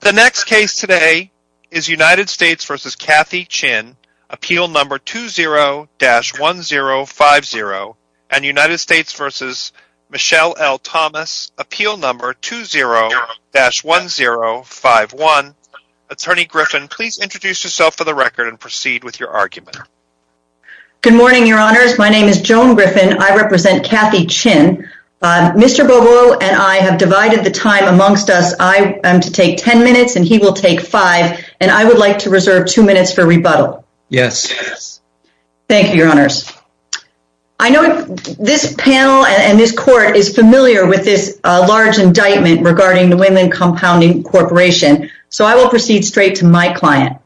The next case today is United States v. Kathy Chin, Appeal No. 20-1050 and United States v. Michelle L. Thomas, Appeal No. 20-1051. Attorney Griffin, please introduce yourself for the record and proceed with your argument. Good morning, Your Honors. My name is Joan Griffin. I represent Kathy Chin. Mr. Bobo and I have divided the time amongst us. I would like to reserve two minutes for rebuttal. Thank you, Your Honors. I know this panel and this court is familiar with this large indictment regarding the Women Compounding Corporation, so I will proceed straight to my client.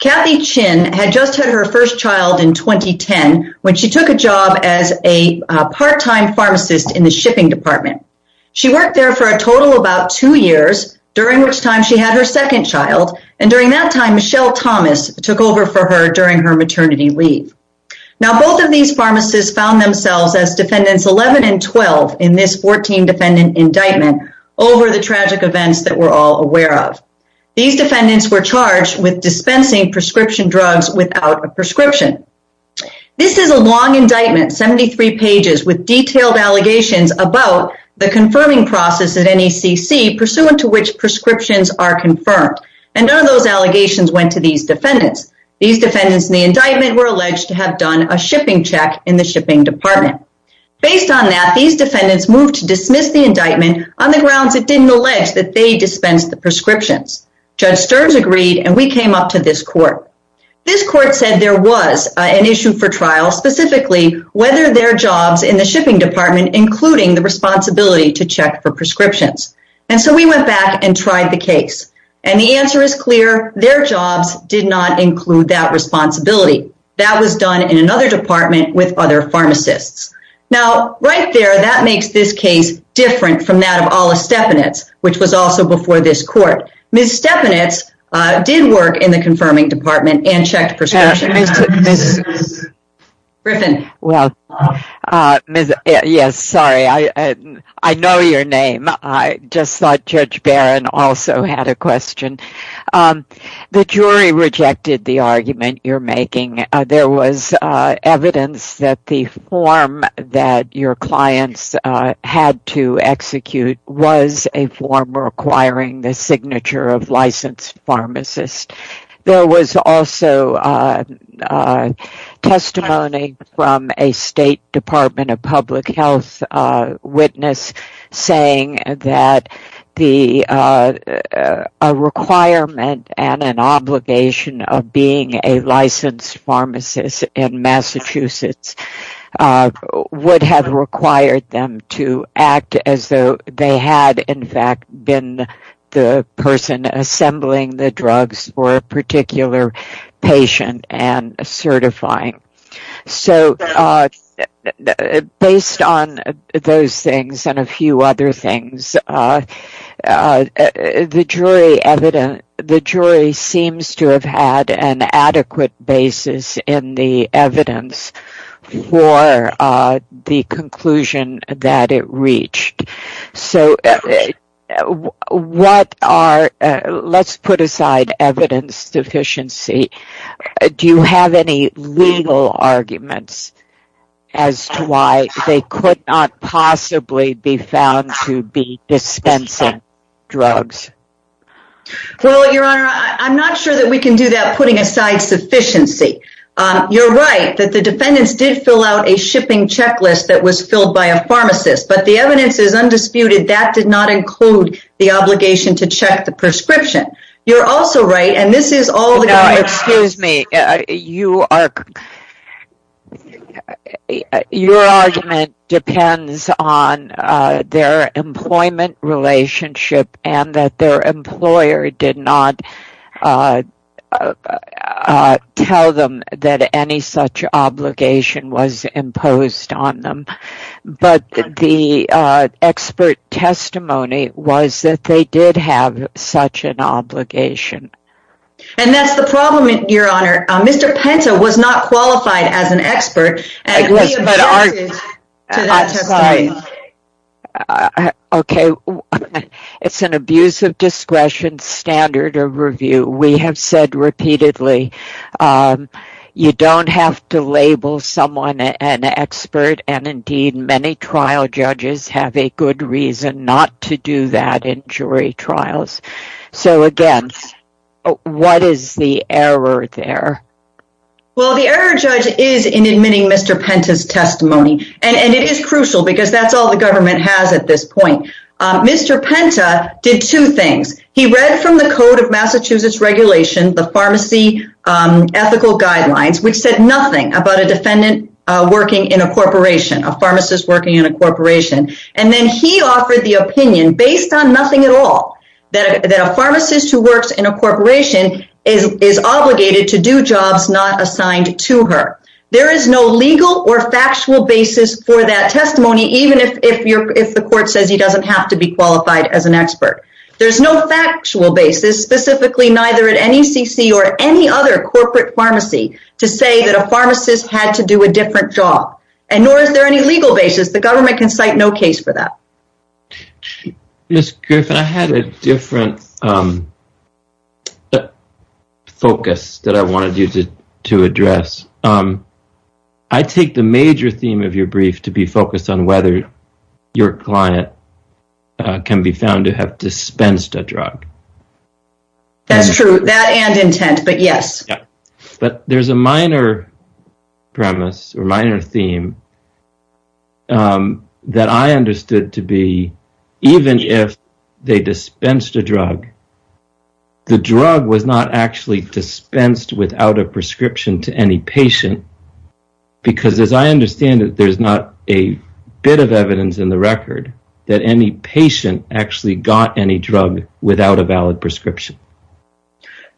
Kathy Chin had just had her first child in 2010 when she took a job as a part-time pharmacist in the shipping department. She worked there for a total of about two years, during which time she had her second child, and during that time, Michelle Thomas took over for her during her maternity leave. Now both of these pharmacists found themselves as defendants 11 and 12 in this 14-defendant indictment over the tragic events that we're all aware of. These defendants were charged with dispensing prescription drugs without a prescription. This is a long indictment, 73 pages, with detailed allegations about the confirming process at NECC pursuant to which prescriptions are confirmed, and none of those allegations went to these defendants. These defendants in the indictment were alleged to have done a shipping check in the shipping department. Based on that, these defendants moved to dismiss the indictment on the grounds it didn't allege that they dispensed the prescriptions. Judge Sterns agreed, and we came up to this trial specifically, whether their jobs in the shipping department, including the responsibility to check for prescriptions. And so we went back and tried the case, and the answer is clear, their jobs did not include that responsibility. That was done in another department with other pharmacists. Now, right there, that makes this case different from that of Alla Stepanitz, which was also before this court. Ms. Stepanitz did work in the confirming department and checked prescriptions. Ms. Griffin. Yes, sorry, I know your name. I just thought Judge Barron also had a question. The jury rejected the argument you're making. There was evidence that the form that your clients had to execute was a form requiring the signature of licensed pharmacists. There was also testimony from a State Department of Public Health witness saying that a requirement and an obligation of being a licensed pharmacist in Massachusetts would have required them to act as though they had, in fact, been the person assembling the drugs for a particular patient and certifying. So, based on those things and a few other evidence for the conclusion that it reached. So, what are, let's put aside evidence deficiency, do you have any legal arguments as to why they could not possibly be found to be dispensing drugs? Well, Your Honor, I'm not sure that we can do that putting aside sufficiency. You're right that the defendants did fill out a shipping checklist that was filled by a pharmacist, but the evidence is undisputed that did not include the obligation to check the prescription. You're also right, and this is all... Excuse me. Your argument depends on their employment relationship and that their employer did not tell them that any such obligation was imposed on them. But, the expert testimony was that they did have such an obligation. And that's the problem, Your Honor. Mr. Penta was not qualified as Okay, it's an abuse of discretion standard of review. We have said repeatedly, you don't have to label someone an expert, and indeed, many trial judges have a good reason not to do that in jury trials. So, again, what is the error there? Well, the error, Judge, is in admitting Mr. Penta's testimony. And it is crucial because that's all the government has at this point. Mr. Penta did two things. He read from the Code of Massachusetts Regulation, the pharmacy ethical guidelines, which said nothing about a defendant working in a corporation, a pharmacist working in a corporation. And then he offered the opinion, based on nothing at all, that a pharmacist who factual basis for that testimony, even if the court says he doesn't have to be qualified as an expert. There's no factual basis, specifically neither at NECC or any other corporate pharmacy, to say that a pharmacist had to do a different job. And nor is there any legal basis. The government can cite no case for that. Ms. Griffin, I had a different focus that I wanted you to address. I take the major theme of your brief to be focused on whether your client can be found to have dispensed a drug. That's true, that and intent, but yes. But there's a minor premise or minor theme that I understood to be, even if they dispensed a drug, the drug was not actually a prescription to any patient. Because, as I understand it, there's not a bit of evidence in the record that any patient actually got any drug without a valid prescription.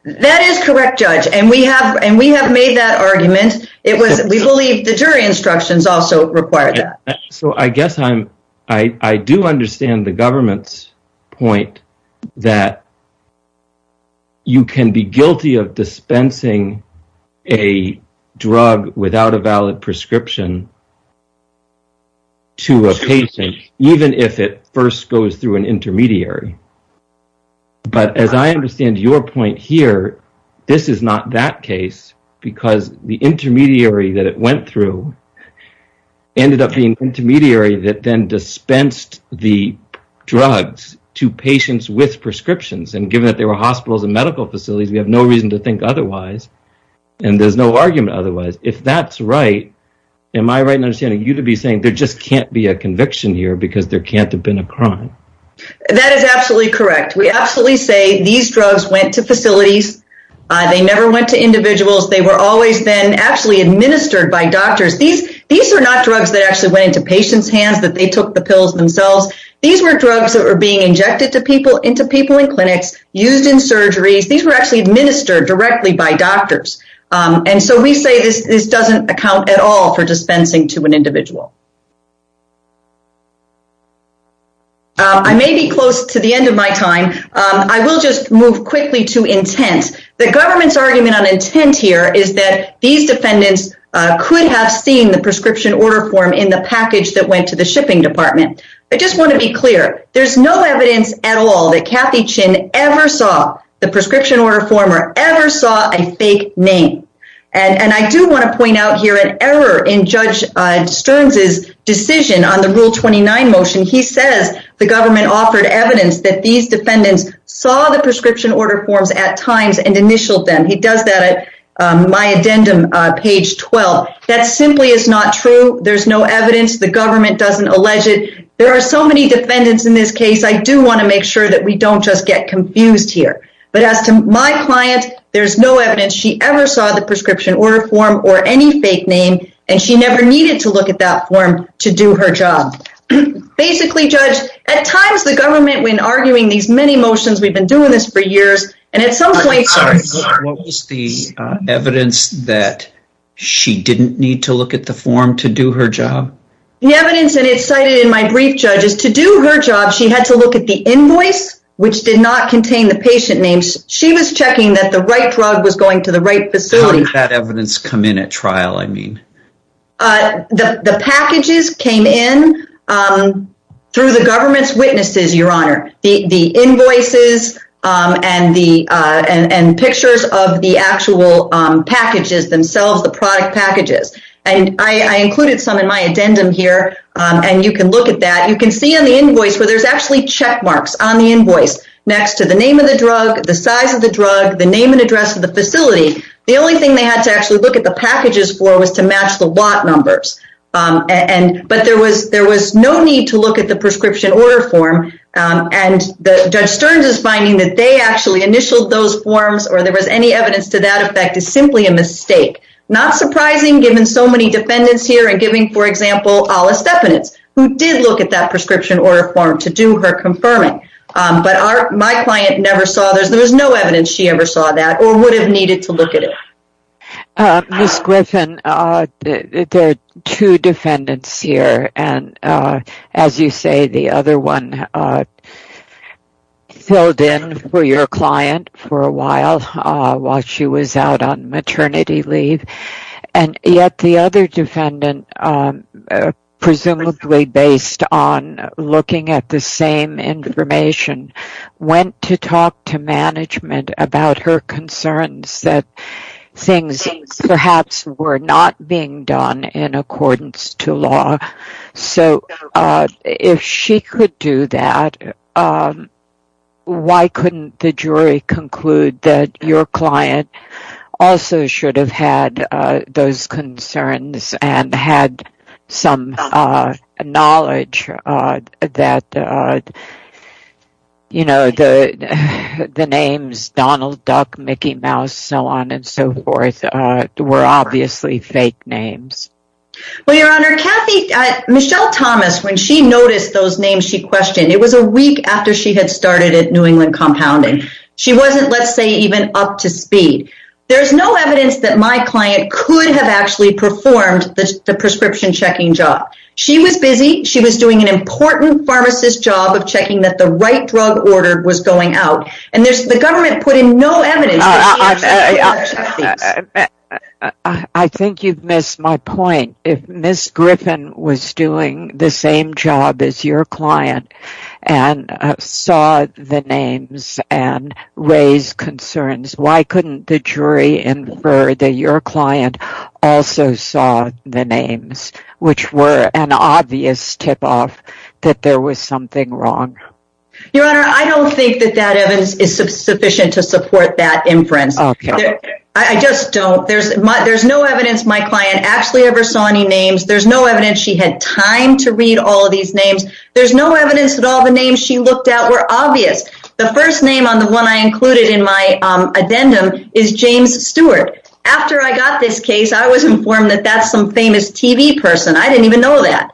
That is correct, Judge, and we have made that argument. We believe the jury instructions also require that. So, I do understand the government's point that you can be guilty of dispensing a drug without a valid prescription to a patient, even if it first goes through an intermediary. But, as I understand your point here, this is not that case, because the intermediary that it went through ended up being an intermediary that then dispensed the drugs to patients with prescriptions. Given that there were hospitals and medical facilities, we have no reason to think otherwise, and there's no argument otherwise. If that's right, am I right in understanding you to be saying there just can't be a conviction here because there can't have been a crime? That is absolutely correct. We absolutely say these drugs went to facilities. They never went to individuals. They were always actually administered by doctors. These are not drugs that actually went into patients' hands, that they took the pills themselves. These were drugs that were being injected into people in clinics, used in surgeries. These were actually administered directly by doctors, and so we say this doesn't account at all for dispensing to an individual. I may be close to the end of my time. I will just move quickly to intent. The government's argument on intent here is that these defendants could have seen the prescription order form in the package that went to the shipping department. I just want to be clear. There's no evidence at all that Kathy Chin ever saw the prescription order form or ever saw a fake name, and I do want to point out here an error in Judge Stearns' decision on the Rule 29 motion. He says the government offered evidence that these defendants saw the prescription order forms at times and initialed them. He does that at my addendum page 12. That simply is not true. There's no evidence. The government doesn't allege it. There are so many defendants in this case. I do want to make sure that we don't just get confused here, but as to my client, there's no evidence she ever saw the prescription order form or any fake name, and she never needed to look at that form to do her job. Basically, Judge, at times the government, when arguing these many motions, we've been doing this for years, and at some point... What was the evidence that she didn't need to look at the form to do her job? The evidence, and it's cited in my brief, Judge, is to do her job, she had to look at the invoice, which did not contain the patient names. She was checking that the right drug was going to the right facility. How did that evidence come in at trial, I mean? The packages came in through the government's witnesses, Your Honor. The invoices and pictures of the actual packages themselves, the product packages. I included some in my addendum here, and you can look at that. You can see on the invoice where there's actually check marks on the invoice next to the name of the drug, the size of the drug, the name and address of the facility. The only thing they had to actually look at the packages for was to match the lot numbers. But there was no need to look at the prescription order form, and Judge Stearns is finding that they actually initialed those forms, or there was any evidence to that effect, is simply a mistake. Not surprising given so many defendants here, and giving, for example, Alice Defenance, who did look at that prescription order form to do her confirming. But my client never saw, there was no evidence she ever saw that, or would have needed to look at it. Ms. Griffin, there are two defendants here, and as you say, the other one filled in for your client for a while, while she was out on maternity leave. And yet the other defendant, presumably based on looking at the same information, went to talk to management about her concerns that things perhaps were not being done in accordance to law. So if she could do that, why couldn't the knowledge that the names Donald Duck, Mickey Mouse, so on and so forth, were obviously fake names? Well, Your Honor, Michelle Thomas, when she noticed those names she questioned, it was a week after she had started at New England Compounding. She wasn't, let's say, even up to speed. There's no checking job. She was busy, she was doing an important pharmacist job of checking that the right drug order was going out, and the government put in no evidence. I think you've missed my point. If Ms. Griffin was doing the same job as your client, and saw the names, and raised concerns, why couldn't the jury infer that your client also saw the names, which were an obvious tip-off that there was something wrong? Your Honor, I don't think that that evidence is sufficient to support that inference. I just don't. There's no evidence my client actually ever saw any names. There's no evidence she had time to read all of these names. There's no evidence that all the names she looked at were obvious. The first name on the one I included in my addendum is James Stewart. After I got this case, I was informed that that's some famous TV person. I didn't even know that.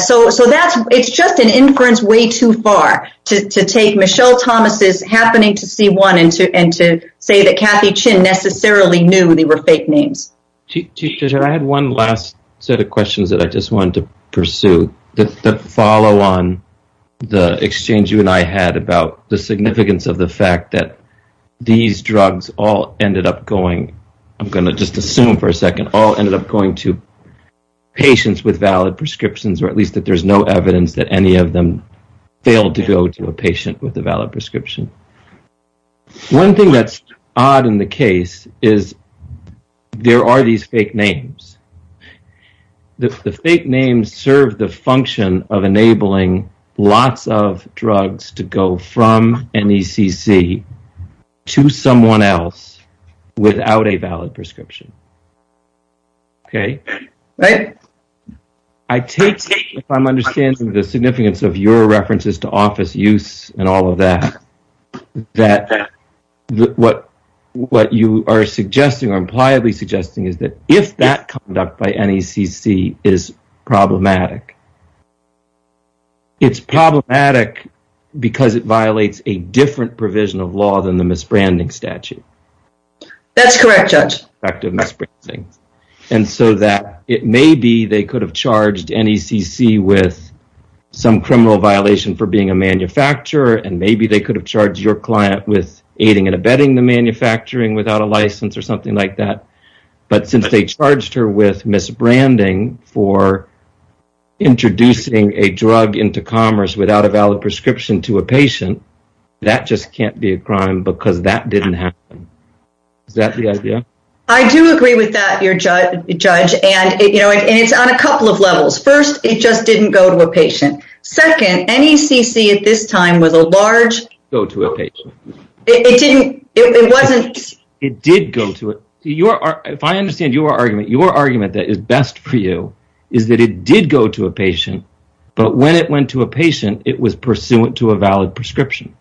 So, that's, it's just an inference way too far to take Michelle Thomas' happening to see one, and to say that Kathy Chin necessarily knew they were fake names. Chief Judge, I had one last set of questions that I just wanted to pursue that follow on the exchange you and I had about the significance of the fact that these drugs all ended up going, I'm going to just assume for a second, all ended up going to patients with valid prescriptions, or at least that there's no evidence that any of them failed to go to a patient with a valid prescription. One thing that's odd in the case is there are these fake names. The fake names serve the function of enabling lots of drugs to go from an ECC to someone else without a valid prescription. Okay? I take, if I'm understanding the significance of your references to office use and all of that, that what what you are suggesting or that if that conduct by NECC is problematic, it's problematic because it violates a different provision of law than the misbranding statute. That's correct, Judge. And so that it may be they could have charged NECC with some criminal violation for being a manufacturer, and maybe they could have charged your client with aiding and abetting the manufacturing without a license or something like that, but since they charged her with misbranding for introducing a drug into commerce without a valid prescription to a patient, that just can't be a crime because that didn't happen. Is that the idea? I do agree with that, Judge, and it's on a couple of levels. First, it just didn't go to a patient. Second, NECC at this time was a large... Go to a patient. It didn't, it wasn't... It did go to it. If I understand your argument, your argument that is best for you is that it did go to a patient, but when it went to a patient, it was pursuant to a valid prescription.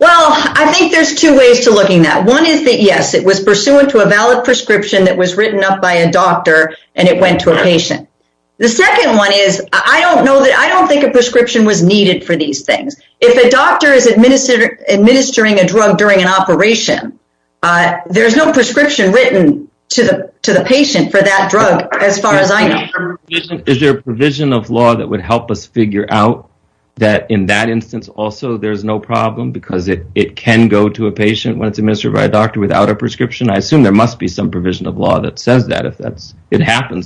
Well, I think there's two ways to looking that. One is that, yes, it was pursuant to a valid prescription that was written up by a doctor. The second one is, I don't think a prescription was needed for these things. If a doctor is administering a drug during an operation, there's no prescription written to the patient for that drug as far as I know. Is there a provision of law that would help us figure out that in that instance also there's no problem because it can go to a patient when it's administered by a doctor without a prescription? I assume there must be some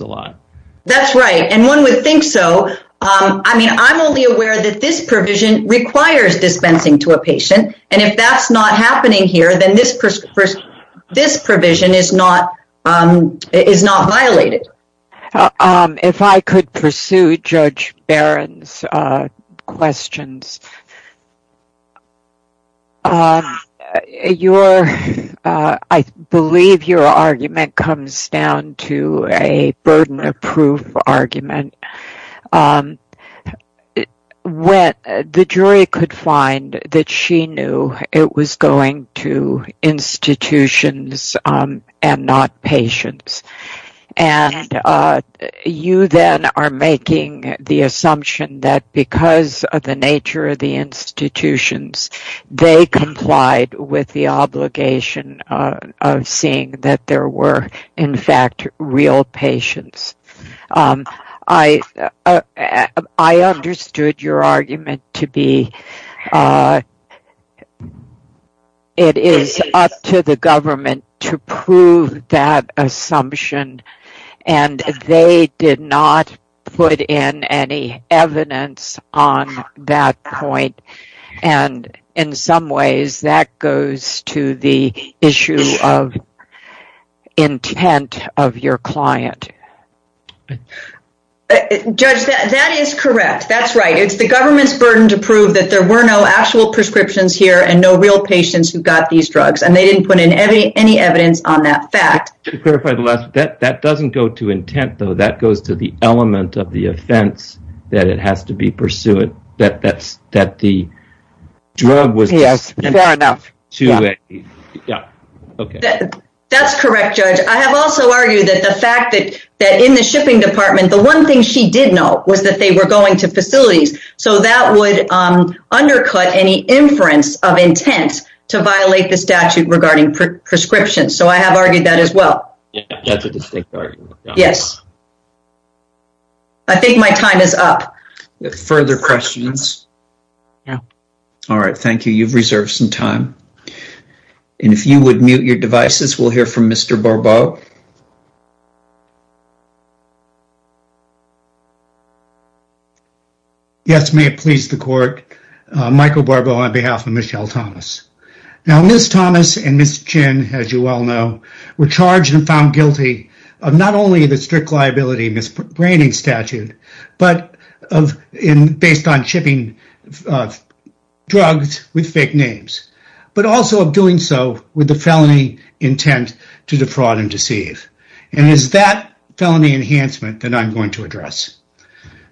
a lot. That's right, and one would think so. I mean, I'm only aware that this provision requires dispensing to a patient, and if that's not happening here, then this provision is not violated. If I could pursue Judge Barron's questions. I believe your argument comes down to a burden of proof argument. The jury could find that she knew it was going to institutions and not patients, and you then are making the assumption that because of the nature of the institutions, they complied with the obligation of seeing that there were in fact real patients. I understood your argument to be that it is up to the government to prove that assumption, and they did not put in any evidence on that point. In some ways, that goes to the issue of intent of your client. Judge, that is correct. That's right. It's the government's burden to prove that there were no actual prescriptions here and no real patients who got these drugs, and they didn't put in any evidence on that fact. To clarify the last, that doesn't go to intent, though. That goes to the element of the offense that it has to be pursued, that the drug was far enough. That's correct, Judge. I have also argued that the fact that in the shipping department, the one thing she did know was that they were going to facilities, so that would undercut any inference of intent to violate the statute regarding prescriptions. I have argued that as well. That's a distinct argument. Yes. I think my time is up. Further questions? No. All right. Thank you. You've reserved some time. If you would mute your devices, we'll hear from Mr. Barbeau. Yes. May it please the court. Michael Barbeau on behalf of Michelle Thomas. Now, Ms. Thomas and Ms. Chin, as you well know, were charged and found guilty of not only the liability misbranding statute, but based on shipping drugs with fake names, but also of doing so with the felony intent to defraud and deceive. It is that felony enhancement that I'm going to address.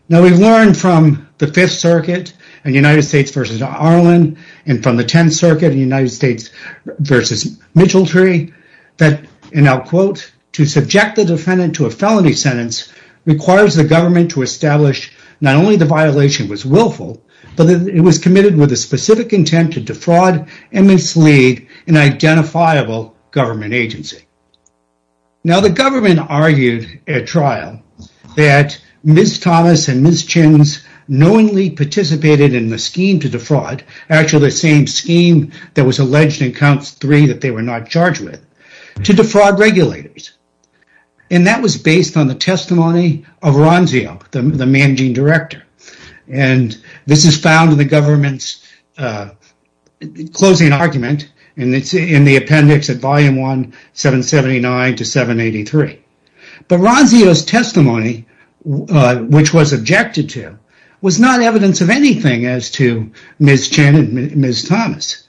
Now, we've learned from the Fifth Circuit and United States versus Arlen, and from the Tenth Circuit and United States versus Mitchell Tree that, and I'll quote, to subject the defendant to a felony sentence requires the government to establish not only the violation was willful, but that it was committed with a specific intent to defraud and mislead an identifiable government agency. Now, the government argued at trial that Ms. Thomas and Ms. Chin's knowingly participated in the scheme to defraud, actually the same scheme that was alleged in counts three that they were not charged with, to defraud regulators, and that was based on the testimony of Ronzio, the managing director, and this is found in the government's closing argument, and it's in the appendix at volume 1779 to 783. But Ronzio's testimony, which was objected to, was not evidence of anything as to Ms. Chin and Ms. Thomas.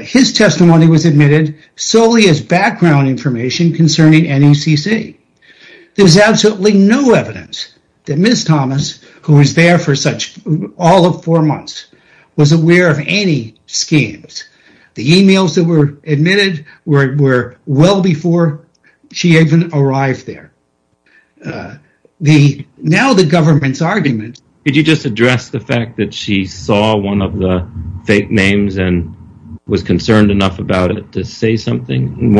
His testimony was admitted solely as background information concerning NECC. There's absolutely no evidence that Ms. Thomas, who was there for such all of four months, was aware of any schemes. The emails that were admitted were well before she even arrived there. Now, the government's argument... one of the fake names and was concerned enough about it to say something,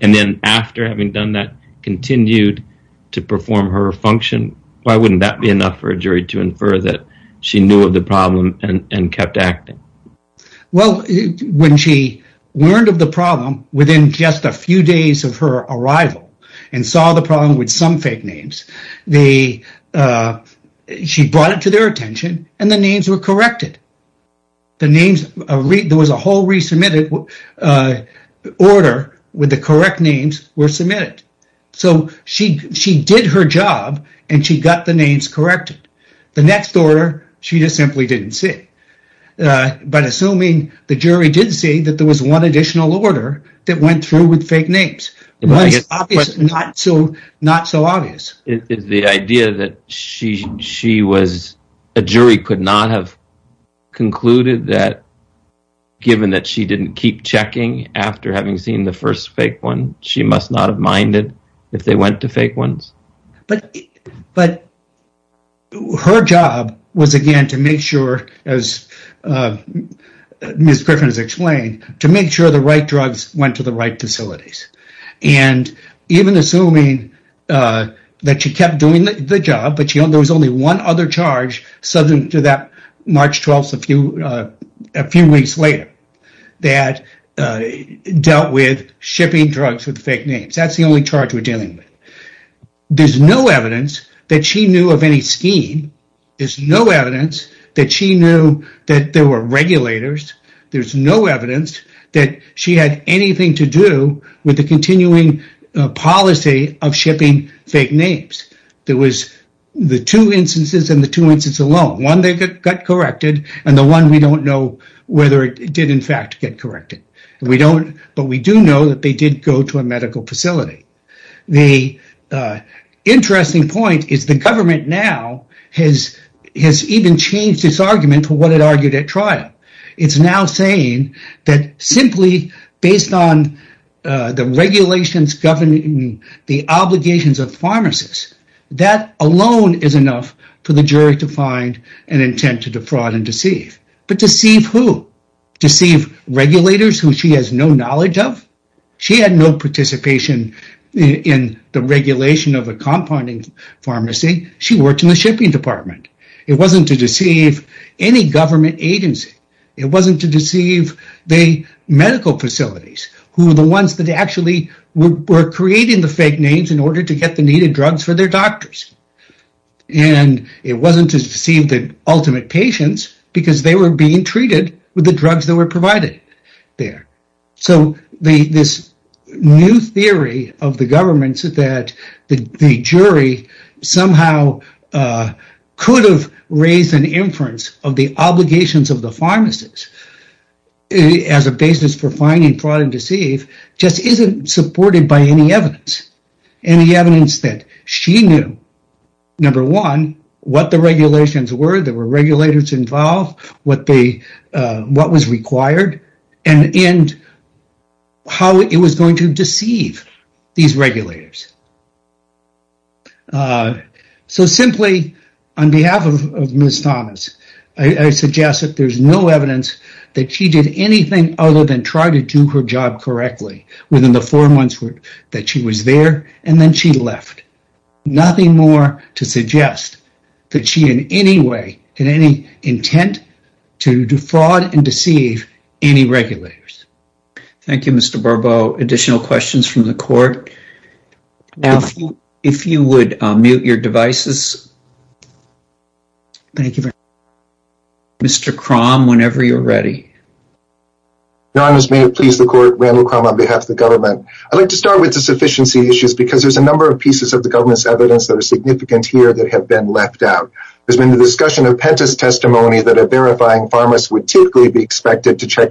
and then after having done that, continued to perform her function, why wouldn't that be enough for a jury to infer that she knew of the problem and kept acting? Well, when she learned of the problem within just a few days of her arrival and saw the problem with some fake names, she brought it to their attention and the names were corrected. There was a whole resubmitted order where the correct names were submitted. So she did her job and she got the names corrected. The next order, she just simply didn't see. But assuming the jury did see that there was one additional order that went through with fake names, not so obvious. Is the idea that a jury could not have concluded that, given that she didn't keep checking after having seen the first fake one, she must not have minded if they went to fake ones? But her job was, again, to make sure, as Ms. Griffin has explained, to make sure the right drugs went to the right facilities. And even assuming that she kept doing the job, but there was only one other charge subject to that March 12th, a few weeks later, that dealt with shipping drugs with fake names. That's the only charge we're dealing with. There's no evidence that she knew of any scheme. There's no evidence that she knew that there were regulators. There's no evidence that she had anything to do with the continuing policy of shipping fake names. There was the two instances and the two instances alone, one that got corrected and the one we don't know whether it did in fact get corrected. But we do know that they did go to a medical facility. The interesting point is the government now has even changed its argument for what it argued at trial. It's now saying that simply based on the regulations governing the obligations of pharmacists, that alone is enough for the jury to find an intent to defraud and deceive. But deceive who? Deceive regulators who she has no knowledge of. She had no participation in the regulation of a compounding pharmacy. She worked in the shipping department. It wasn't to deceive any government agency. It wasn't to deceive the medical facilities who are the ones that actually were creating the fake names in order to get the needed drugs for their doctors. And it wasn't to deceive the ultimate patients because they were being treated with the drugs that were provided there. So this new theory of the government said that the jury somehow could have raised an inference of the obligations of the pharmacists as a basis for finding fraud and deceive just isn't supported by any evidence. Any evidence that she knew, number one, what the regulations were, there were regulators involved, what was required, and how it was going to deceive these regulators. So simply on behalf of Ms. Thomas, I suggest that there's no evidence that she did anything other than try to do her job correctly within the four months that she was there and then she left. Nothing more to suggest that she in any way, in any intent to defraud and deceive any regulators. Thank you, Mr. Bourbeau. Additional questions from the court? If you would mute your devices. Thank you. Mr. Krom, whenever you're ready. Your Honors, may it please the court, Randall Krom on behalf of the government. I'd like to start with the sufficiency issues because there's a number of pieces of the government's evidence that are significant here that have been left out. There's been the discussion of Penta's testimony that a verifying pharmacist would typically be expected to check.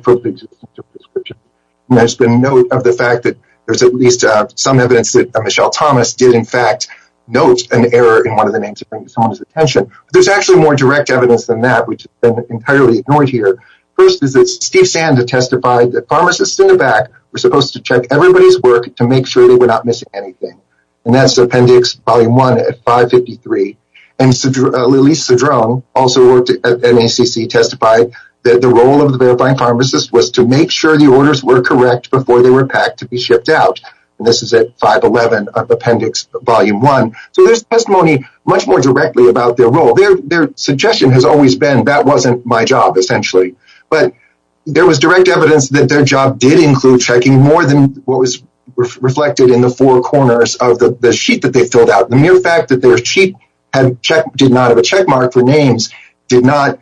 There's been note of the fact that there's at least some evidence that Michelle Thomas did, in fact, note an error in one of the names to bring someone's attention. There's actually more direct evidence than that, which has been entirely ignored here. First is that Steve Sanda testified that pharmacists in the back were supposed to check everybody's work to make sure they were not missing anything. And that's Appendix Volume 1 at 553. And Lillie Cedrone also worked at NACC testified that the role of the verifying pharmacist was to make sure the orders were correct before they were packed to be shipped out. And this is at 511 Appendix Volume 1. So there's testimony much more directly about their role. Their suggestion has always been that wasn't my job, essentially. But there was direct evidence that their job did include checking more than what was reflected in the four corners of the sheet that they filled out. The mere fact that their sheet did not have a checkmark for names did not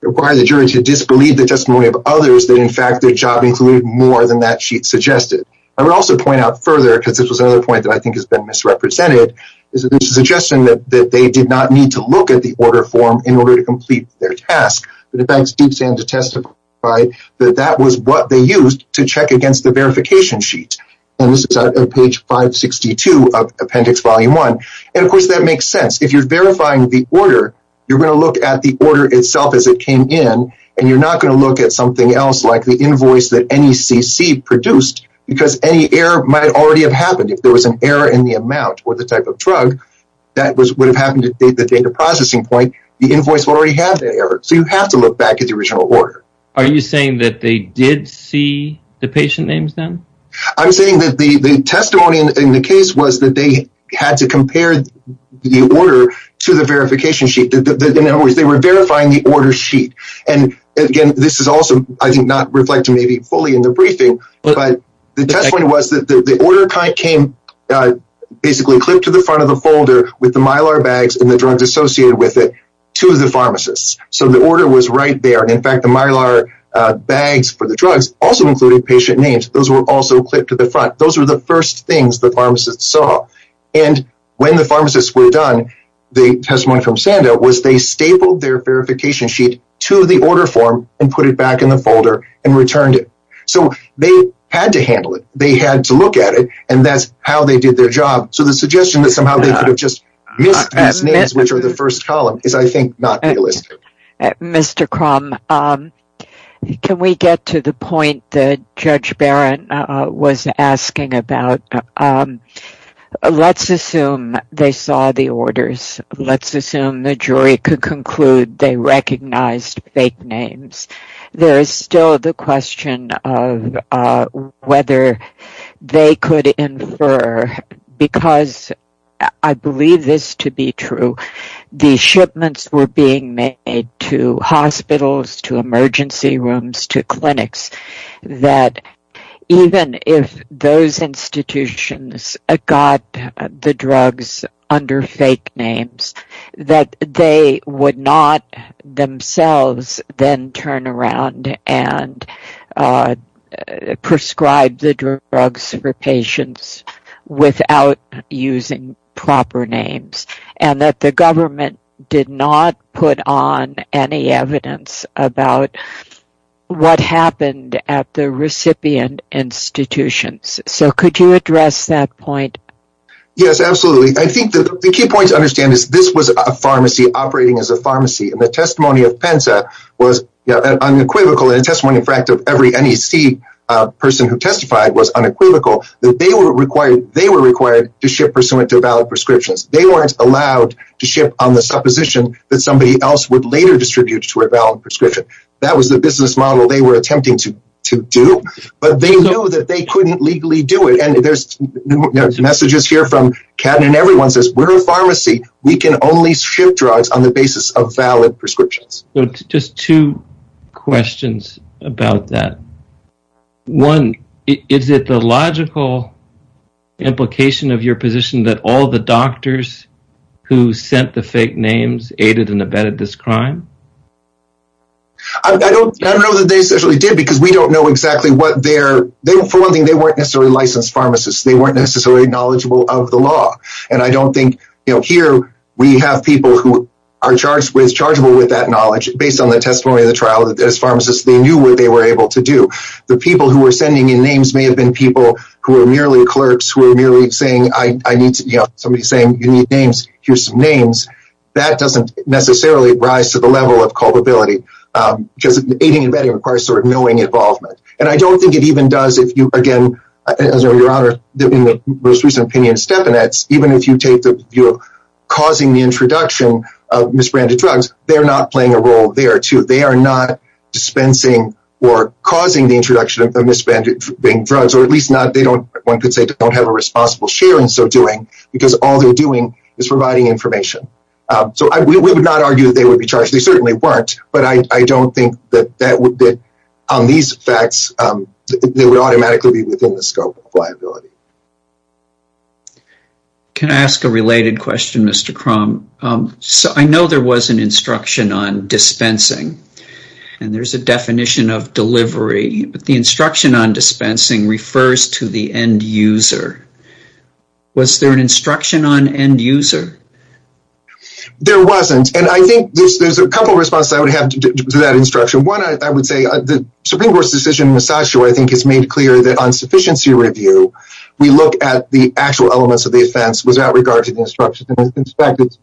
require the jury to disbelieve the testimony of others that, in fact, their job included more than that sheet suggested. I would also point out further, because this was another point that I think has been misrepresented, is the suggestion that they did not need to look at the order form in order to complete their task. But it begs DeepSan to testify that that was what they used to check against the verification sheet. And this is on page 562 of Appendix Volume 1. And of course, that makes sense. If you're verifying the order, you're going to look at the order itself as it came in, and you're not going to look at something else like the invoice that NACC produced, because any error might already have happened. If there was an error in the amount or type of drug, that would have happened at the data processing point. The invoice would already have that error. So you have to look back at the original order. Are you saying that they did see the patient names then? I'm saying that the testimony in the case was that they had to compare the order to the verification sheet. In other words, they were verifying the order sheet. And again, this is also, I think, not reflecting maybe fully in the briefing, but the testimony was that the order came basically clipped to the front of the folder with the mylar bags and the drugs associated with it to the pharmacists. So the order was right there. In fact, the mylar bags for the drugs also included patient names. Those were also clipped to the front. Those were the first things the pharmacists saw. And when the pharmacists were done, the testimony from Sanda was they stapled their verification sheet to the order form and put it back in the folder and returned it. So they had to handle it. They had to look at it. And that's how they did their job. So the suggestion that somehow they could have just missed these names, which are the first column, is, I think, not realistic. Mr. Crumb, can we get to the point that Judge Barrett was asking about? Let's assume they saw the orders. Let's assume the jury could conclude they recognized fake names. There is still the question of whether they could infer, because I believe this to be true, the shipments were being made to hospitals, to emergency rooms, to clinics, that even if those institutions got the drugs under fake names, that they would not themselves then turn around and prescribe the drugs for patients without using proper names, and that the government did not put on any evidence about what happened at the recipient institutions. So could you address that point? Yes, absolutely. I think that the key point to understand is this was a pharmacy operating as a pharmacy, and the testimony of PENSA was unequivocal, and the testimony, in fact, of every NEC person who testified was unequivocal, that they were required to ship pursuant to valid prescriptions. They weren't allowed to ship on the supposition that somebody else would later distribute to a valid prescription. That was the business model they were attempting to do, but they knew that they couldn't legally do it, and there are messages here from Catton, and everyone says, we're a pharmacy. We can only ship drugs on the basis of valid prescriptions. Just two questions about that. One, is it the logical implication of your position that all the doctors who sent the fake names aided and abetted this crime? I don't know that they essentially did, because we don't know exactly what their, for one thing, they weren't necessarily licensed pharmacists. They weren't necessarily knowledgeable of the law, and I don't think, you know, here we have people who are charged with, chargeable with that knowledge, based on the testimony of the trial, that as pharmacists, they knew what they were able to do. The people who were sending in names may have been people who were merely clerks, who were merely saying, I need to, you know, somebody saying, you need names, here's some names. That doesn't necessarily rise to the level of culpability, because aiding and abetting requires sort of knowing involvement, and I don't think it even does if you, again, as your Honor, in the most recent opinion of Stepanetz, even if you take the view of causing the introduction of misbranded drugs, they're not playing a role there, too. They are not dispensing or causing the introduction of misbranded drugs, or at least not, they don't, one could say, don't have a responsible share in so doing, because all they're doing is providing information. So we would not argue that they would be charged. They certainly weren't, but I don't think that that would, that on these facts, they would automatically be within the scope of liability. Can I ask a related question, Mr. Cromb? So I know there was an instruction on dispensing, and there's a definition of delivery, but the instruction on dispensing refers to the end user. Was there an instruction on end user? There wasn't, and I think there's a couple responses I would have to that instruction. One, I would say, the Supreme Court's decision in Massachusetts, I think, has made clear that on sufficiency review, we look at the actual elements of the offense without regard to the instructions. In fact, it's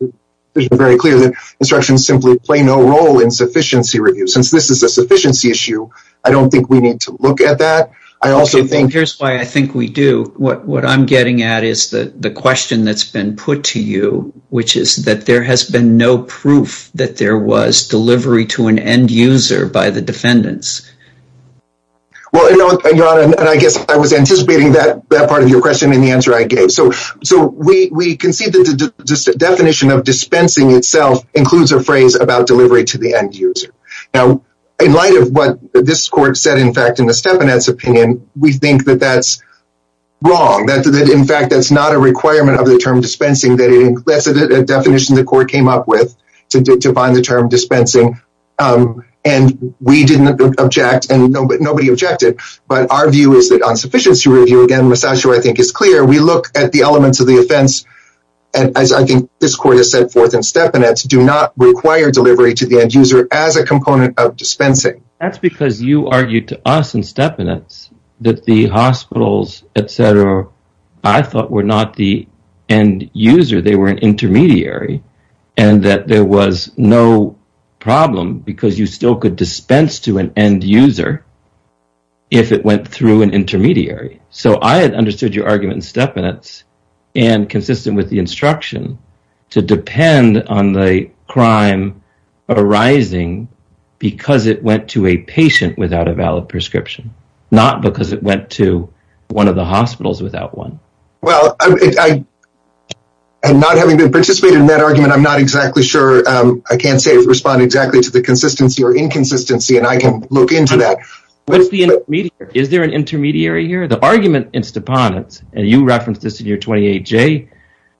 very clear that instructions simply no role in sufficiency review. Since this is a sufficiency issue, I don't think we need to look at that. I also think... Here's why I think we do. What I'm getting at is the question that's been put to you, which is that there has been no proof that there was delivery to an end user by the defendants. Well, Your Honor, and I guess I was anticipating that part of your question in the answer I gave. So we concede that the definition of dispensing itself includes a delivery to the end user. Now, in light of what this court said, in fact, in the Stepanet's opinion, we think that that's wrong. In fact, that's not a requirement of the term dispensing. That's a definition the court came up with to bind the term dispensing, and we didn't object, and nobody objected, but our view is that on sufficiency review, again, Massachusetts, I think, is clear. We look at the elements of the offense, and as I think this court has set forth in Stepanet, do not require delivery to the end user as a component of dispensing. That's because you argued to us in Stepanet that the hospitals, etc., I thought were not the end user. They were an intermediary, and that there was no problem because you still could dispense to an end user if it went through an intermediary. So I had understood your argument in Stepanet, and consistent with the instruction, to depend on the crime arising because it went to a patient without a valid prescription, not because it went to one of the hospitals without one. Well, and not having participated in that argument, I'm not exactly sure. I can't say respond exactly to the consistency or inconsistency, and I can look into that. What's the intermediary? Is there an intermediary here? The argument in Stepanet, and you referenced this in your 28J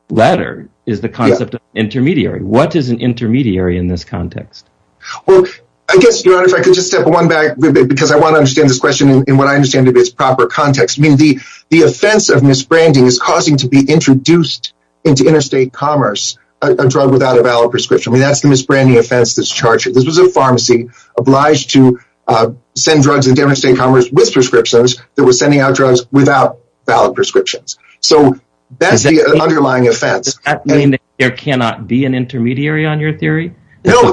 letter, is the concept of intermediary. What is an intermediary in this context? Well, I guess, Your Honor, if I could just step one back a little bit because I want to understand this question in what I understand to be its proper context. I mean, the offense of misbranding is causing to be introduced into interstate commerce a drug without a valid prescription. I mean, that's the misbranding offense that's charged. This was a pharmacy obliged to send drugs into interstate commerce with prescriptions that were sending out drugs without valid prescriptions. So that's the underlying offense. Does that mean there cannot be an intermediary on your theory? No.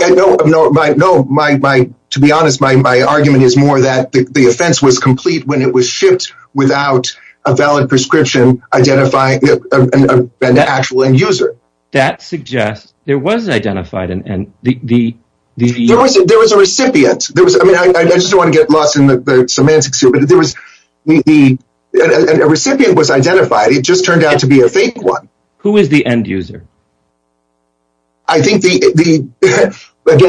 To be honest, my argument is more that the offense was complete when it was shipped without a valid prescription identifying an actual end user. That suggests there was identified an end user. There was a recipient. I just don't want to get lost in the semantics here, but there was a recipient was identified. It just turned out to be a fake one. Who is the end user? I think, again,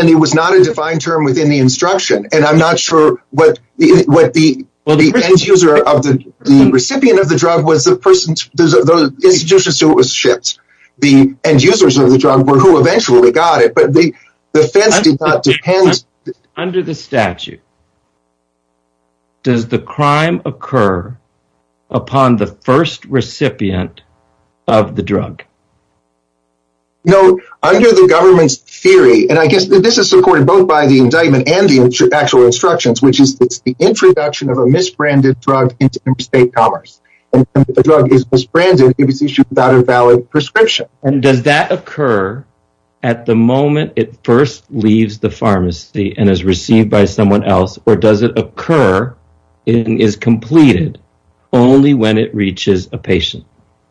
it was not a defined term within the instruction. And I'm not sure what the end user of the recipient of the drug was the person, the institutions to which it was shipped. The end users of the drug were who eventually got it, but the offense did not depend. Under the statute, does the crime occur upon the first recipient of the drug? No. Under the government's theory, and I guess this is supported both by the indictment and the actual instructions, which is the introduction of a misbranded drug into interstate commerce. And if the drug is misbranded, it was issued without a valid prescription. And does that occur at the moment it first leaves the pharmacy and is received by someone else, or does it occur and is completed only when it reaches a patient?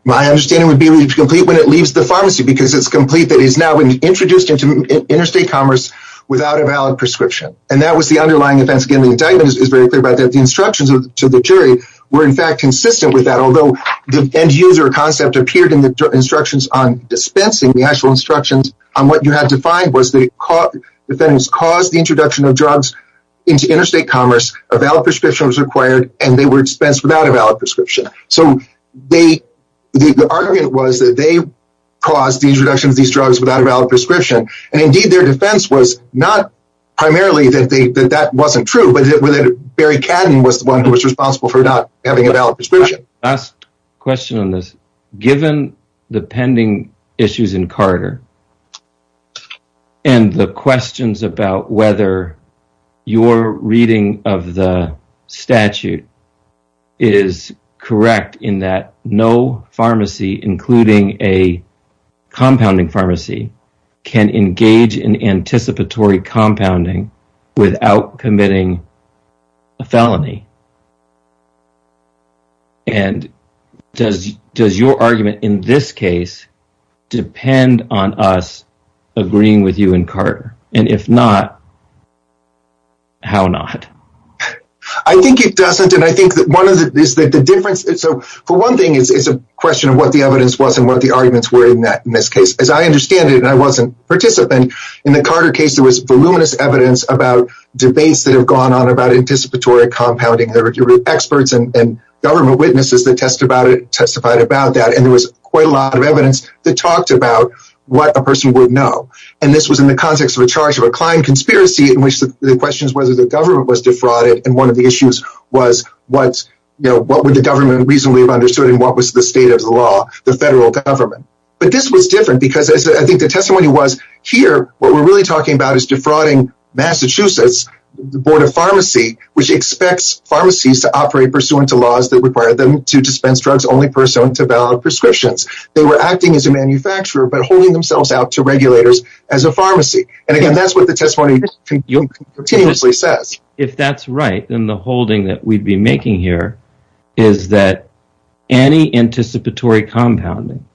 My understanding would be complete when it leaves the pharmacy because it's complete. That is now introduced into interstate commerce without a valid prescription. And that was the underlying offense. Again, the indictment is very clear about that. The instructions to the jury were in fact consistent with that, although the end user concept appeared instructions on dispensing. The actual instructions on what you had to find was that defendants caused the introduction of drugs into interstate commerce, a valid prescription was required, and they were dispensed without a valid prescription. So the argument was that they caused the introduction of these drugs without a valid prescription. And indeed, their defense was not primarily that that wasn't true, but that Barry Cadden was the one who was responsible for not having a valid prescription. Last question on this. Given the pending issues in Carter and the questions about whether your reading of the statute is correct in that no pharmacy, including a compounding pharmacy, can engage in anticipatory compounding without committing a felony? And does your argument in this case depend on us agreeing with you in Carter? And if not, how not? I think it doesn't. And I think that one of the difference is so for one thing, it's a question of what the evidence was and what the arguments were in that in this case, as I understand it, and I wasn't participant in the Carter case, there was voluminous evidence about debates that have gone on about anticipatory compounding. There were experts and government witnesses that testified about that. And there was quite a lot of evidence that talked about what a person would know. And this was in the context of a charge of a client conspiracy in which the question is whether the government was defrauded. And one of the issues was what would the government reasonably have understood and what was the state of the law, the federal government. But this was different because I think the testimony was here, what we're really talking about is defrauding Massachusetts, the Board of Pharmacy, which expects pharmacies to operate pursuant to laws that require them to dispense drugs only pursuant to valid prescriptions. They were acting as a manufacturer but holding themselves out to regulators as a pharmacy. And again, that's what the testimony continuously says. If that's right, then the holding that we'd be making here is that any anticipatory compounding,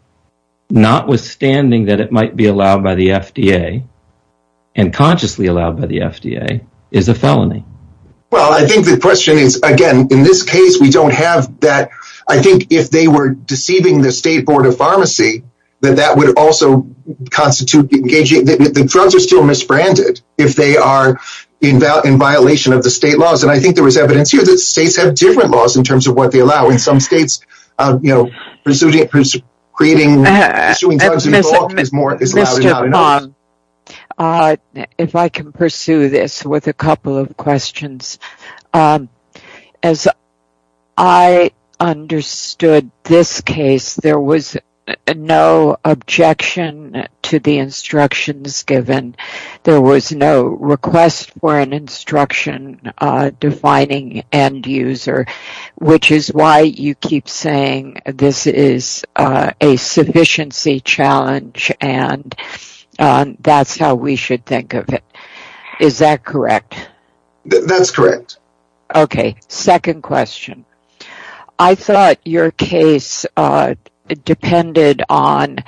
notwithstanding that it might be allowed by the FDA and consciously allowed by the FDA, is a felony. Well, I think the question is, again, in this case, we don't have that. I think if they were deceiving the state Board of Pharmacy, then that would also constitute engaging. The drugs are still misbranded if they are in violation of the state laws. And I think there was evidence here that states have different laws in terms of what they allow. In some states, you know, it's allowed. Mr. Pong, if I can pursue this with a couple of questions. As I understood this case, there was no objection to the instructions given. There was no request for an instruction defining end user, which is why you keep saying this is a sufficiency challenge and that's how we should think of it. Is that correct? That's correct. Okay, second question. I thought your case depended on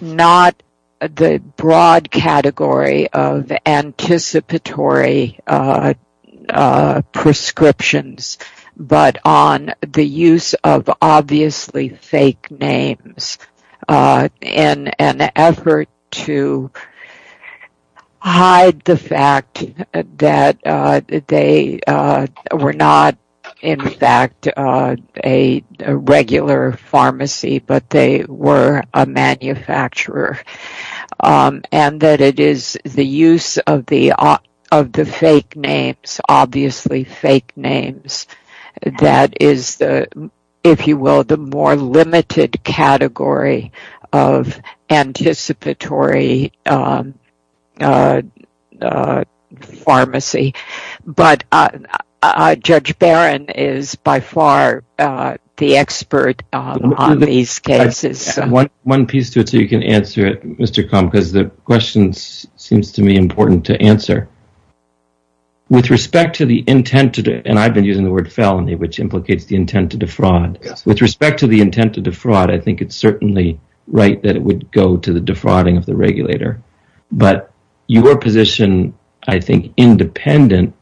not the broad category of anticipatory prescriptions, but on the use of obviously fake names in an effort to hide the fact that they were not, in fact, a regular pharmacy, but they were a manufacturer. And that it is the use of the obviously fake names that is, if you will, the more limited category of anticipatory pharmacy. But Judge Barron is by far the expert on these cases. One piece to it so you can answer it, Mr. Kham, because the question seems to me important to answer. With respect to the intent, and I've been using the word felony, which implicates the intent to defraud. With respect to the intent to defraud, I think it's certainly right that it would go to the defrauding of the regulator. But your position, I think, independent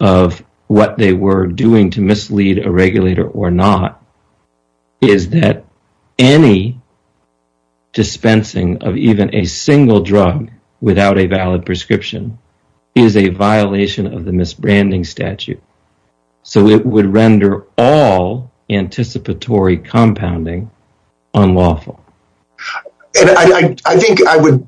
of what they were doing to dispensing of even a single drug without a valid prescription, is a violation of the misbranding statute. So it would render all anticipatory compounding unlawful. And I think I would,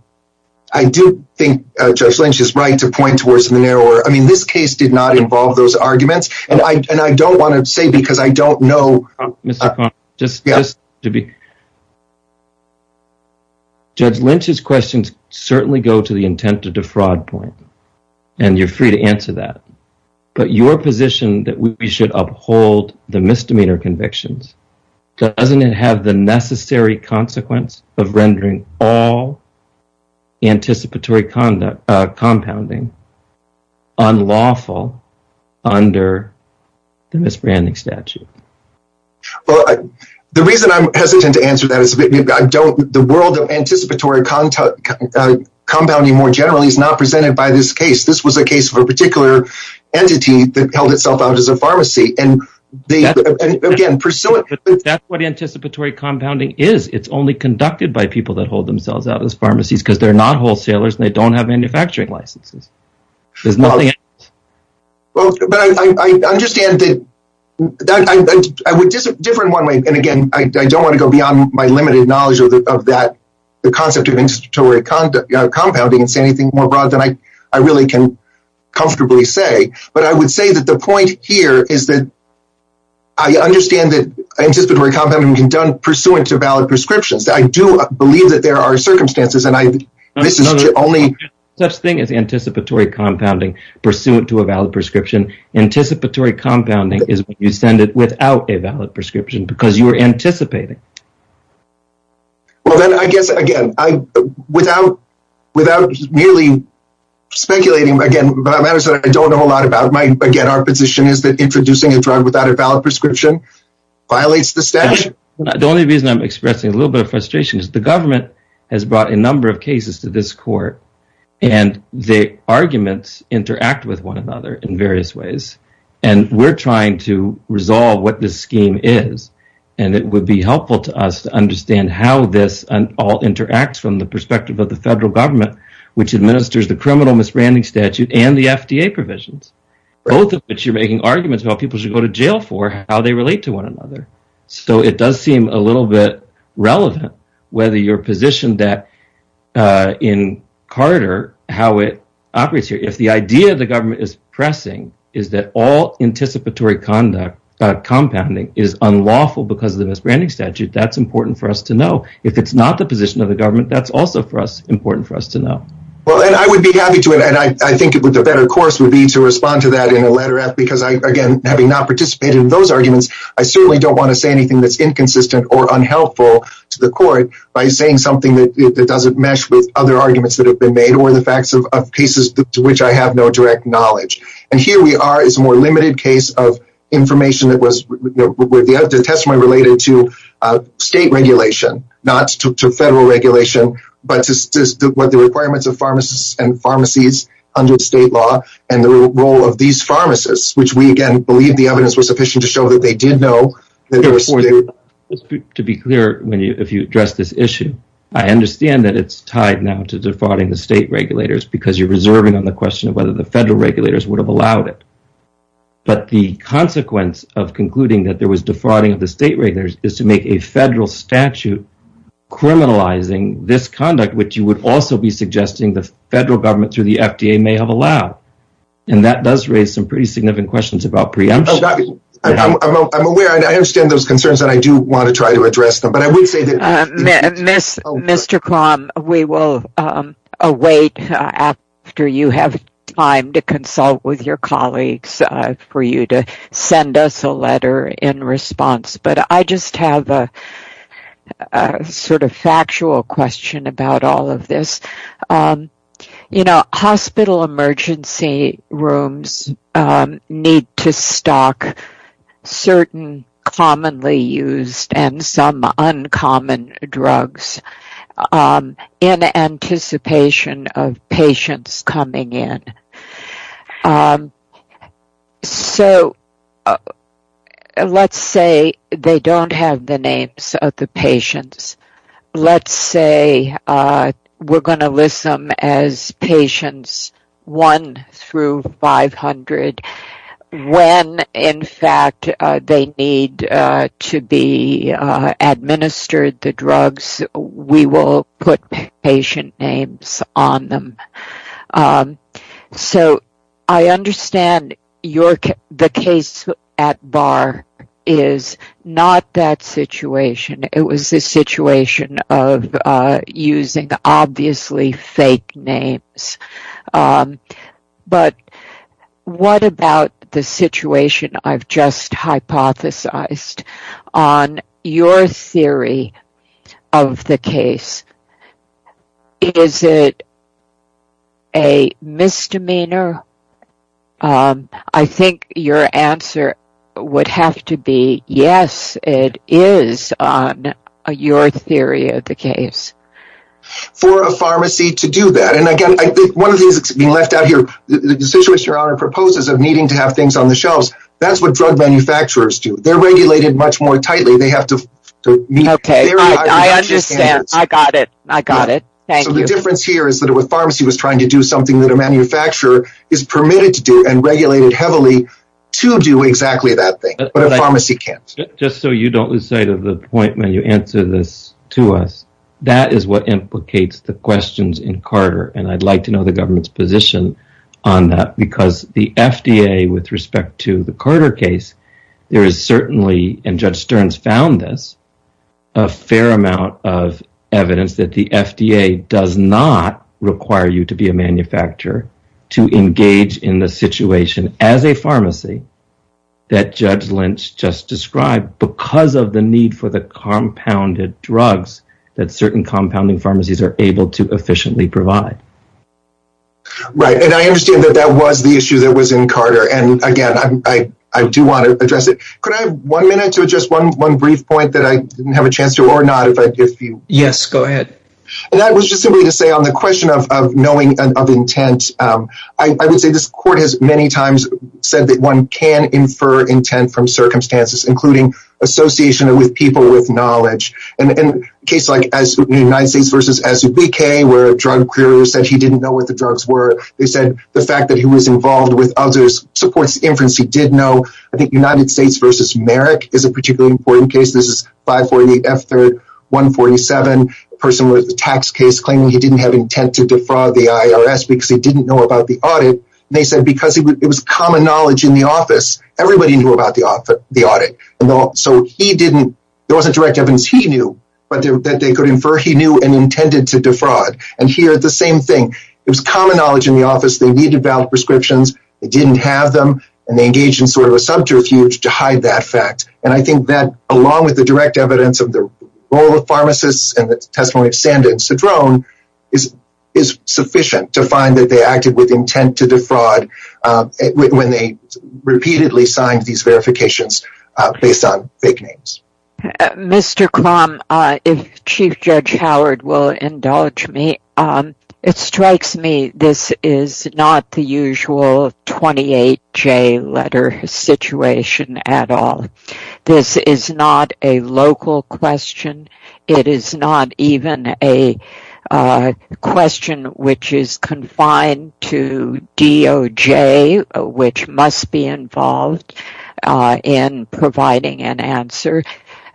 I do think Judge Lynch is right to point towards the narrower. I mean, this case did not involve those arguments. And I don't want to say because I don't know. Mr. Kham, just to be. Judge Lynch's questions certainly go to the intent to defraud point. And you're free to answer that. But your position that we should uphold the misdemeanor convictions, doesn't it have the necessary consequence of rendering all anticipatory compounding unlawful under the misbranding statute? The reason I'm hesitant to answer that is the world of anticipatory compounding more generally is not presented by this case. This was a case of a particular entity that held itself out as a pharmacy. And again, pursuant. That's what anticipatory compounding is. It's only conducted by people that hold themselves out as pharmacies because they're not wholesalers and they don't have manufacturing licenses. There's nothing else. Well, but I understand that I would differ in one way. And again, I don't want to go beyond my limited knowledge of that, the concept of anticipatory compounding and say anything more broad than I really can comfortably say. But I would say that the point here is that I understand that anticipatory compounding can be done pursuant to valid prescriptions. I do understand that. Anticipatory compounding is when you send it without a valid prescription because you're anticipating. Well, then I guess, again, without merely speculating, again, I don't know a lot about my position is that introducing a drug without a valid prescription violates the statute. The only reason I'm expressing a little bit of frustration is the government has brought a number of cases to this court and the arguments interact with one another in various ways. And we're trying to resolve what this scheme is. And it would be helpful to us to understand how this all interacts from the perspective of the federal government, which administers the criminal misbranding statute and the FDA provisions, both of which you're making arguments about people should go to jail for how they relate to one another. So it does seem a little bit relevant whether you're positioned that in Carter, how it operates here. If the idea of the government is pressing is that all anticipatory conduct compounding is unlawful because of the misbranding statute, that's important for us to know. If it's not the position of the government, that's also for us important for us to know. Well, then I would be happy to. And I think the better course would be to respond to that in a that's inconsistent or unhelpful to the court by saying something that doesn't mesh with other arguments that have been made or the facts of cases to which I have no direct knowledge. And here we are is more limited case of information that was the testimony related to state regulation, not to federal regulation, but to what the requirements of pharmacists and pharmacies under state law and the role of these pharmacists, which we again, believe the evidence was sufficient to show that they did know. To be clear, if you address this issue, I understand that it's tied now to defrauding the state regulators because you're reserving on the question of whether the federal regulators would have allowed it. But the consequence of concluding that there was defrauding of the state regulators is to make a federal statute criminalizing this conduct, which you would also be suggesting the federal government through the FDA may have allowed. And that does raise some pretty significant questions about preemption. I'm aware, I understand those concerns that I do want to try to address them, but I would say that Mr. Klom, we will await after you have time to consult with your colleagues for you to send us a letter in response. But I just have a sort of factual question about all of this. You know, hospital emergency rooms need to stock certain commonly used and some uncommon drugs in anticipation of patients coming in. So let's say they don't have the names of the patients. Let's say we're going to list them as patients one through 500. When in fact they need to be administered the drugs, we will put patient names on them. So I understand the case at bar is not that situation. It was a situation of using obviously fake names. But what about the situation I've just hypothesized on your theory of the case? Is it a misdemeanor? I think your answer would have to be, yes, it is on your theory of the case. For a pharmacy to do that, and again, I think one of the things that's being left out here, the situation your honor proposes of needing to have things on the shelves, that's what drug manufacturers do. They're regulated much more tightly. They have to meet very high standards. So the difference here is that a pharmacy was trying to do something that a manufacturer is permitted to do and regulated heavily to do exactly that thing, but a pharmacy can't. Just so you don't lose sight of the point when you answer this to us, that is what implicates the questions in Carter. And I'd like to know the government's position on that because the FDA with respect to the Carter case, there is certainly, and Judge Stearns found this, a fair amount of evidence that the FDA does not require you to be a manufacturer to engage in the situation as a pharmacy that Judge Lynch just described because of the need for the compounded drugs that certain compounding Right. And I understand that that was the issue that was in Carter. And again, I do want to address it. Could I have one minute to just one brief point that I didn't have a chance to or not? Yes, go ahead. And that was just simply to say on the question of knowing of intent, I would say this court has many times said that one can infer intent from circumstances, including association with people with knowledge. And in case like as the United States versus SBK, where a drug said he didn't know what the drugs were. They said the fact that he was involved with others supports inference he did know. I think United States versus Merrick is a particularly important case. This is 548 F 3rd 147 person with the tax case claiming he didn't have intent to defraud the IRS because he didn't know about the audit. And they said because it was common knowledge in the office, everybody knew about the audit. And so he didn't, there wasn't direct evidence he knew, but that they could infer he knew and intended to defraud. And here the same thing. It was common knowledge in the office, they needed valid prescriptions, they didn't have them. And they engaged in sort of a subterfuge to hide that fact. And I think that along with the direct evidence of the role of pharmacists and the testimony of sand and so drone is, is sufficient to find that they acted with intent to defraud when they repeatedly signed these verifications based on fake names. Mr. Crumb, if Chief Judge Howard will indulge me. It strikes me this is not the usual 28 J letter situation at all. This is not a local question. It is not even a question which is confined to DOJ, which must be involved in providing an answer.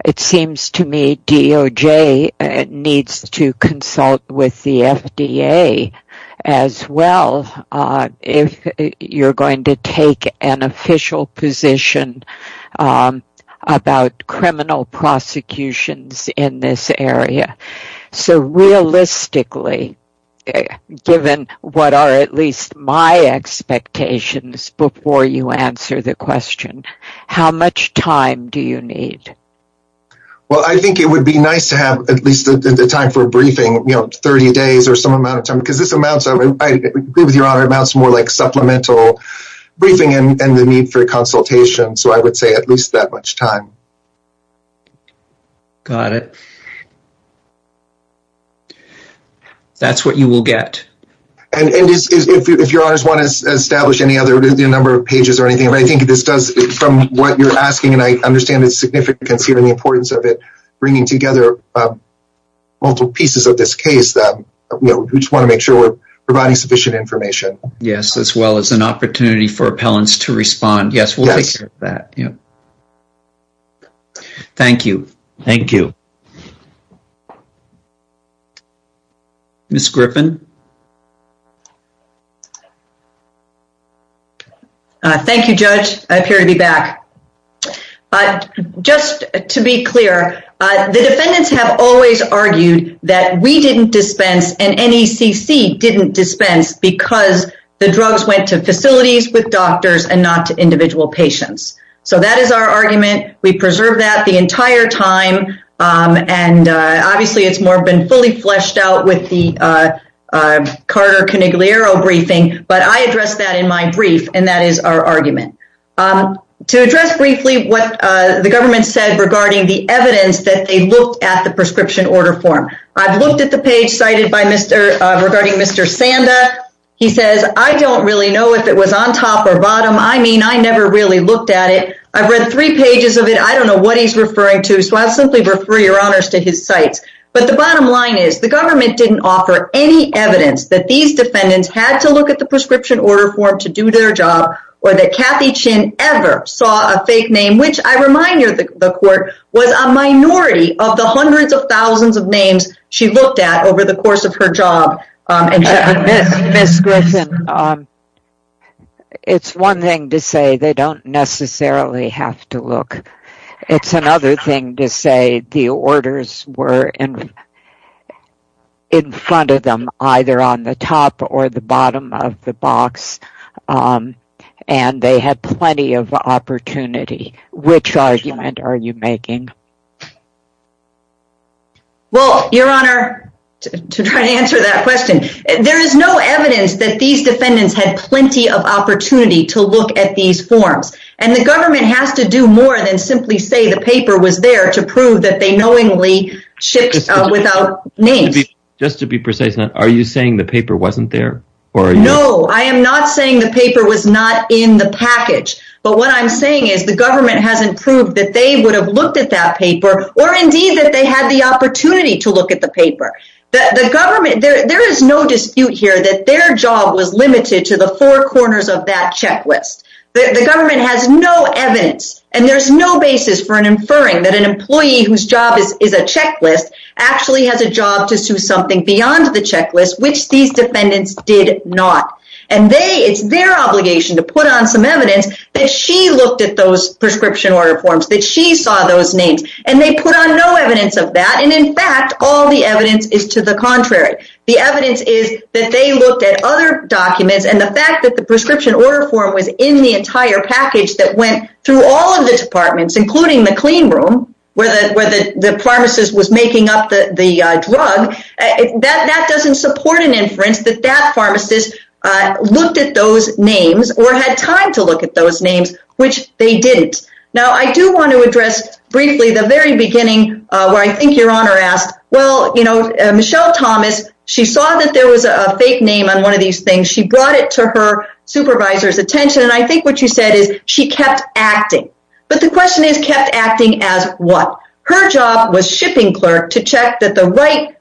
It seems to me DOJ needs to consult with the FDA as well. If you're going to take an official position about criminal prosecutions in this before you answer the question, how much time do you need? Well, I think it would be nice to have at least the time for a briefing, you know, 30 days or some amount of time because this amounts to more like supplemental briefing and the need for consultation. So I would say at least that much time. Got it. That's what you will get. And if your honors want to establish any other number of pages or anything, but I think this does from what you're asking and I understand the significance here and the importance of it bringing together multiple pieces of this case that we just want to make sure we're providing sufficient information. Yes, as well as an opportunity for appellants to respond. Yes, we'll take care of that. Thank you. Thank you. Ms. Griffin. Thank you, Judge. I appear to be back. Just to be clear, the defendants have always argued that we didn't dispense and NECC didn't dispense because the drugs went to facilities with doctors and not to individual patients. So that is our argument. We preserve that the entire time. And obviously, it's more been fully fleshed out with the Carter-Canigliaro briefing. But I addressed that in my brief. And that is our argument. To address briefly what the government said regarding the evidence that they looked at the prescription order form. I've looked at the page cited by Mr. regarding Mr. Sanda. He says, I don't really know if it was on top or bottom. I mean, I never really looked at it. I've read three pages of it. I don't know what he's referring to. So I'll simply refer your honors to his sites. But the bottom line is, the government didn't offer any evidence that these defendants had to look at the prescription order form to do their job, or that Kathy Chin ever saw a fake name, which I remind you, the court was a minority of the hundreds of thousands of names she looked at over the course of her job. Ms. Griffin. Um, it's one thing to say they don't necessarily have to look. It's another thing to say the orders were in front of them, either on the top or the bottom of the box. And they had plenty of opportunity. Which argument are you making? Well, your honor, to try to answer that question, there is no evidence that these defendants had plenty of opportunity to look at these forms. And the government has to do more than simply say the paper was there to prove that they knowingly shipped out without names. Just to be precise, are you saying the paper wasn't there? Or no, I am not saying the paper was not in the package. But what I'm saying is the government hasn't proved that they would have looked at that paper, or indeed that they had the opportunity to look at the paper. There is no dispute here that their job was limited to the four corners of that checklist. The government has no evidence. And there's no basis for inferring that an employee whose job is a checklist actually has a job to do something beyond the checklist, which these defendants did not. And it's their obligation to put on some evidence that she looked at those prescription order forms, that she saw those names. And they put on no evidence of that. And in fact, all the evidence is to the contrary. The evidence is that they looked at other documents. And the fact that the prescription order form was in the entire package that went through all of the departments, including the clean room, where the pharmacist was making up the drug, that doesn't support an inference that that pharmacist looked at those names or had time to look at those names, which they didn't. Now, I do want to address briefly the very beginning, where I think Your Honor asked, well, you know, Michelle Thomas, she saw that there was a fake name on one of these things. She brought it to her supervisor's attention. And I think what you said is she kept acting. But the question is kept acting as what? Her job was shipping clerk to check that the right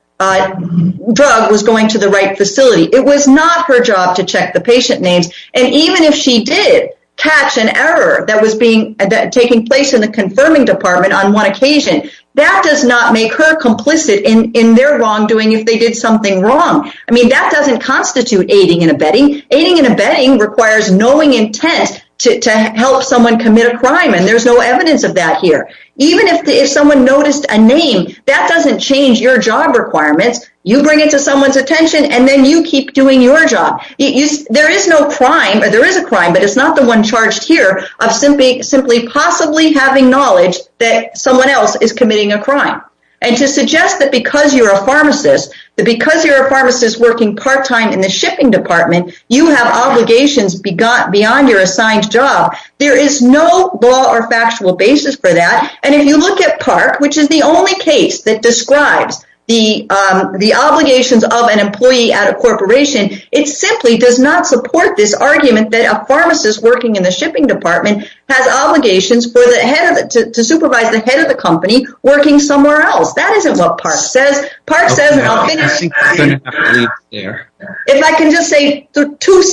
drug was going to the right facility. It was not her job to check the patient names. And even if she did catch an error that was being taking place in the confirming department on one occasion, that does not make her complicit in their wrongdoing if they did something wrong. I mean, that doesn't constitute aiding and abetting. Aiding and abetting requires knowing intent to help someone commit a crime. And there's no evidence of that here. Even if someone noticed a name, that doesn't change your job requirements. You bring it to someone's job. There is no crime, or there is a crime, but it's not the one charged here of simply possibly having knowledge that someone else is committing a crime. And to suggest that because you're a pharmacist, that because you're a pharmacist working part-time in the shipping department, you have obligations beyond your assigned job, there is no law or factual basis for that. And if you look at Park, which is the only case that describes the obligations of an employee at a corporation, it simply does not support this argument that a pharmacist working in the shipping department has obligations to supervise the head of the company working somewhere else. That isn't what Park says. If I can just say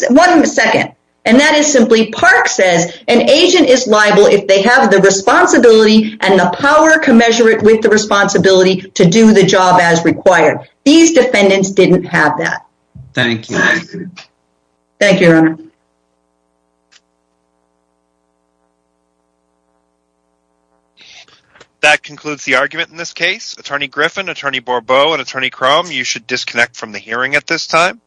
one second, and that is simply, Park says an agent is liable if they have the responsibility and the power commensurate with the responsibility to do the job as required. These defendants didn't have that. Thank you. Thank you, Your Honor. That concludes the argument in this case. Attorney Griffin, Attorney Borbeau, and Attorney Crum, you should disconnect from the hearing at this time.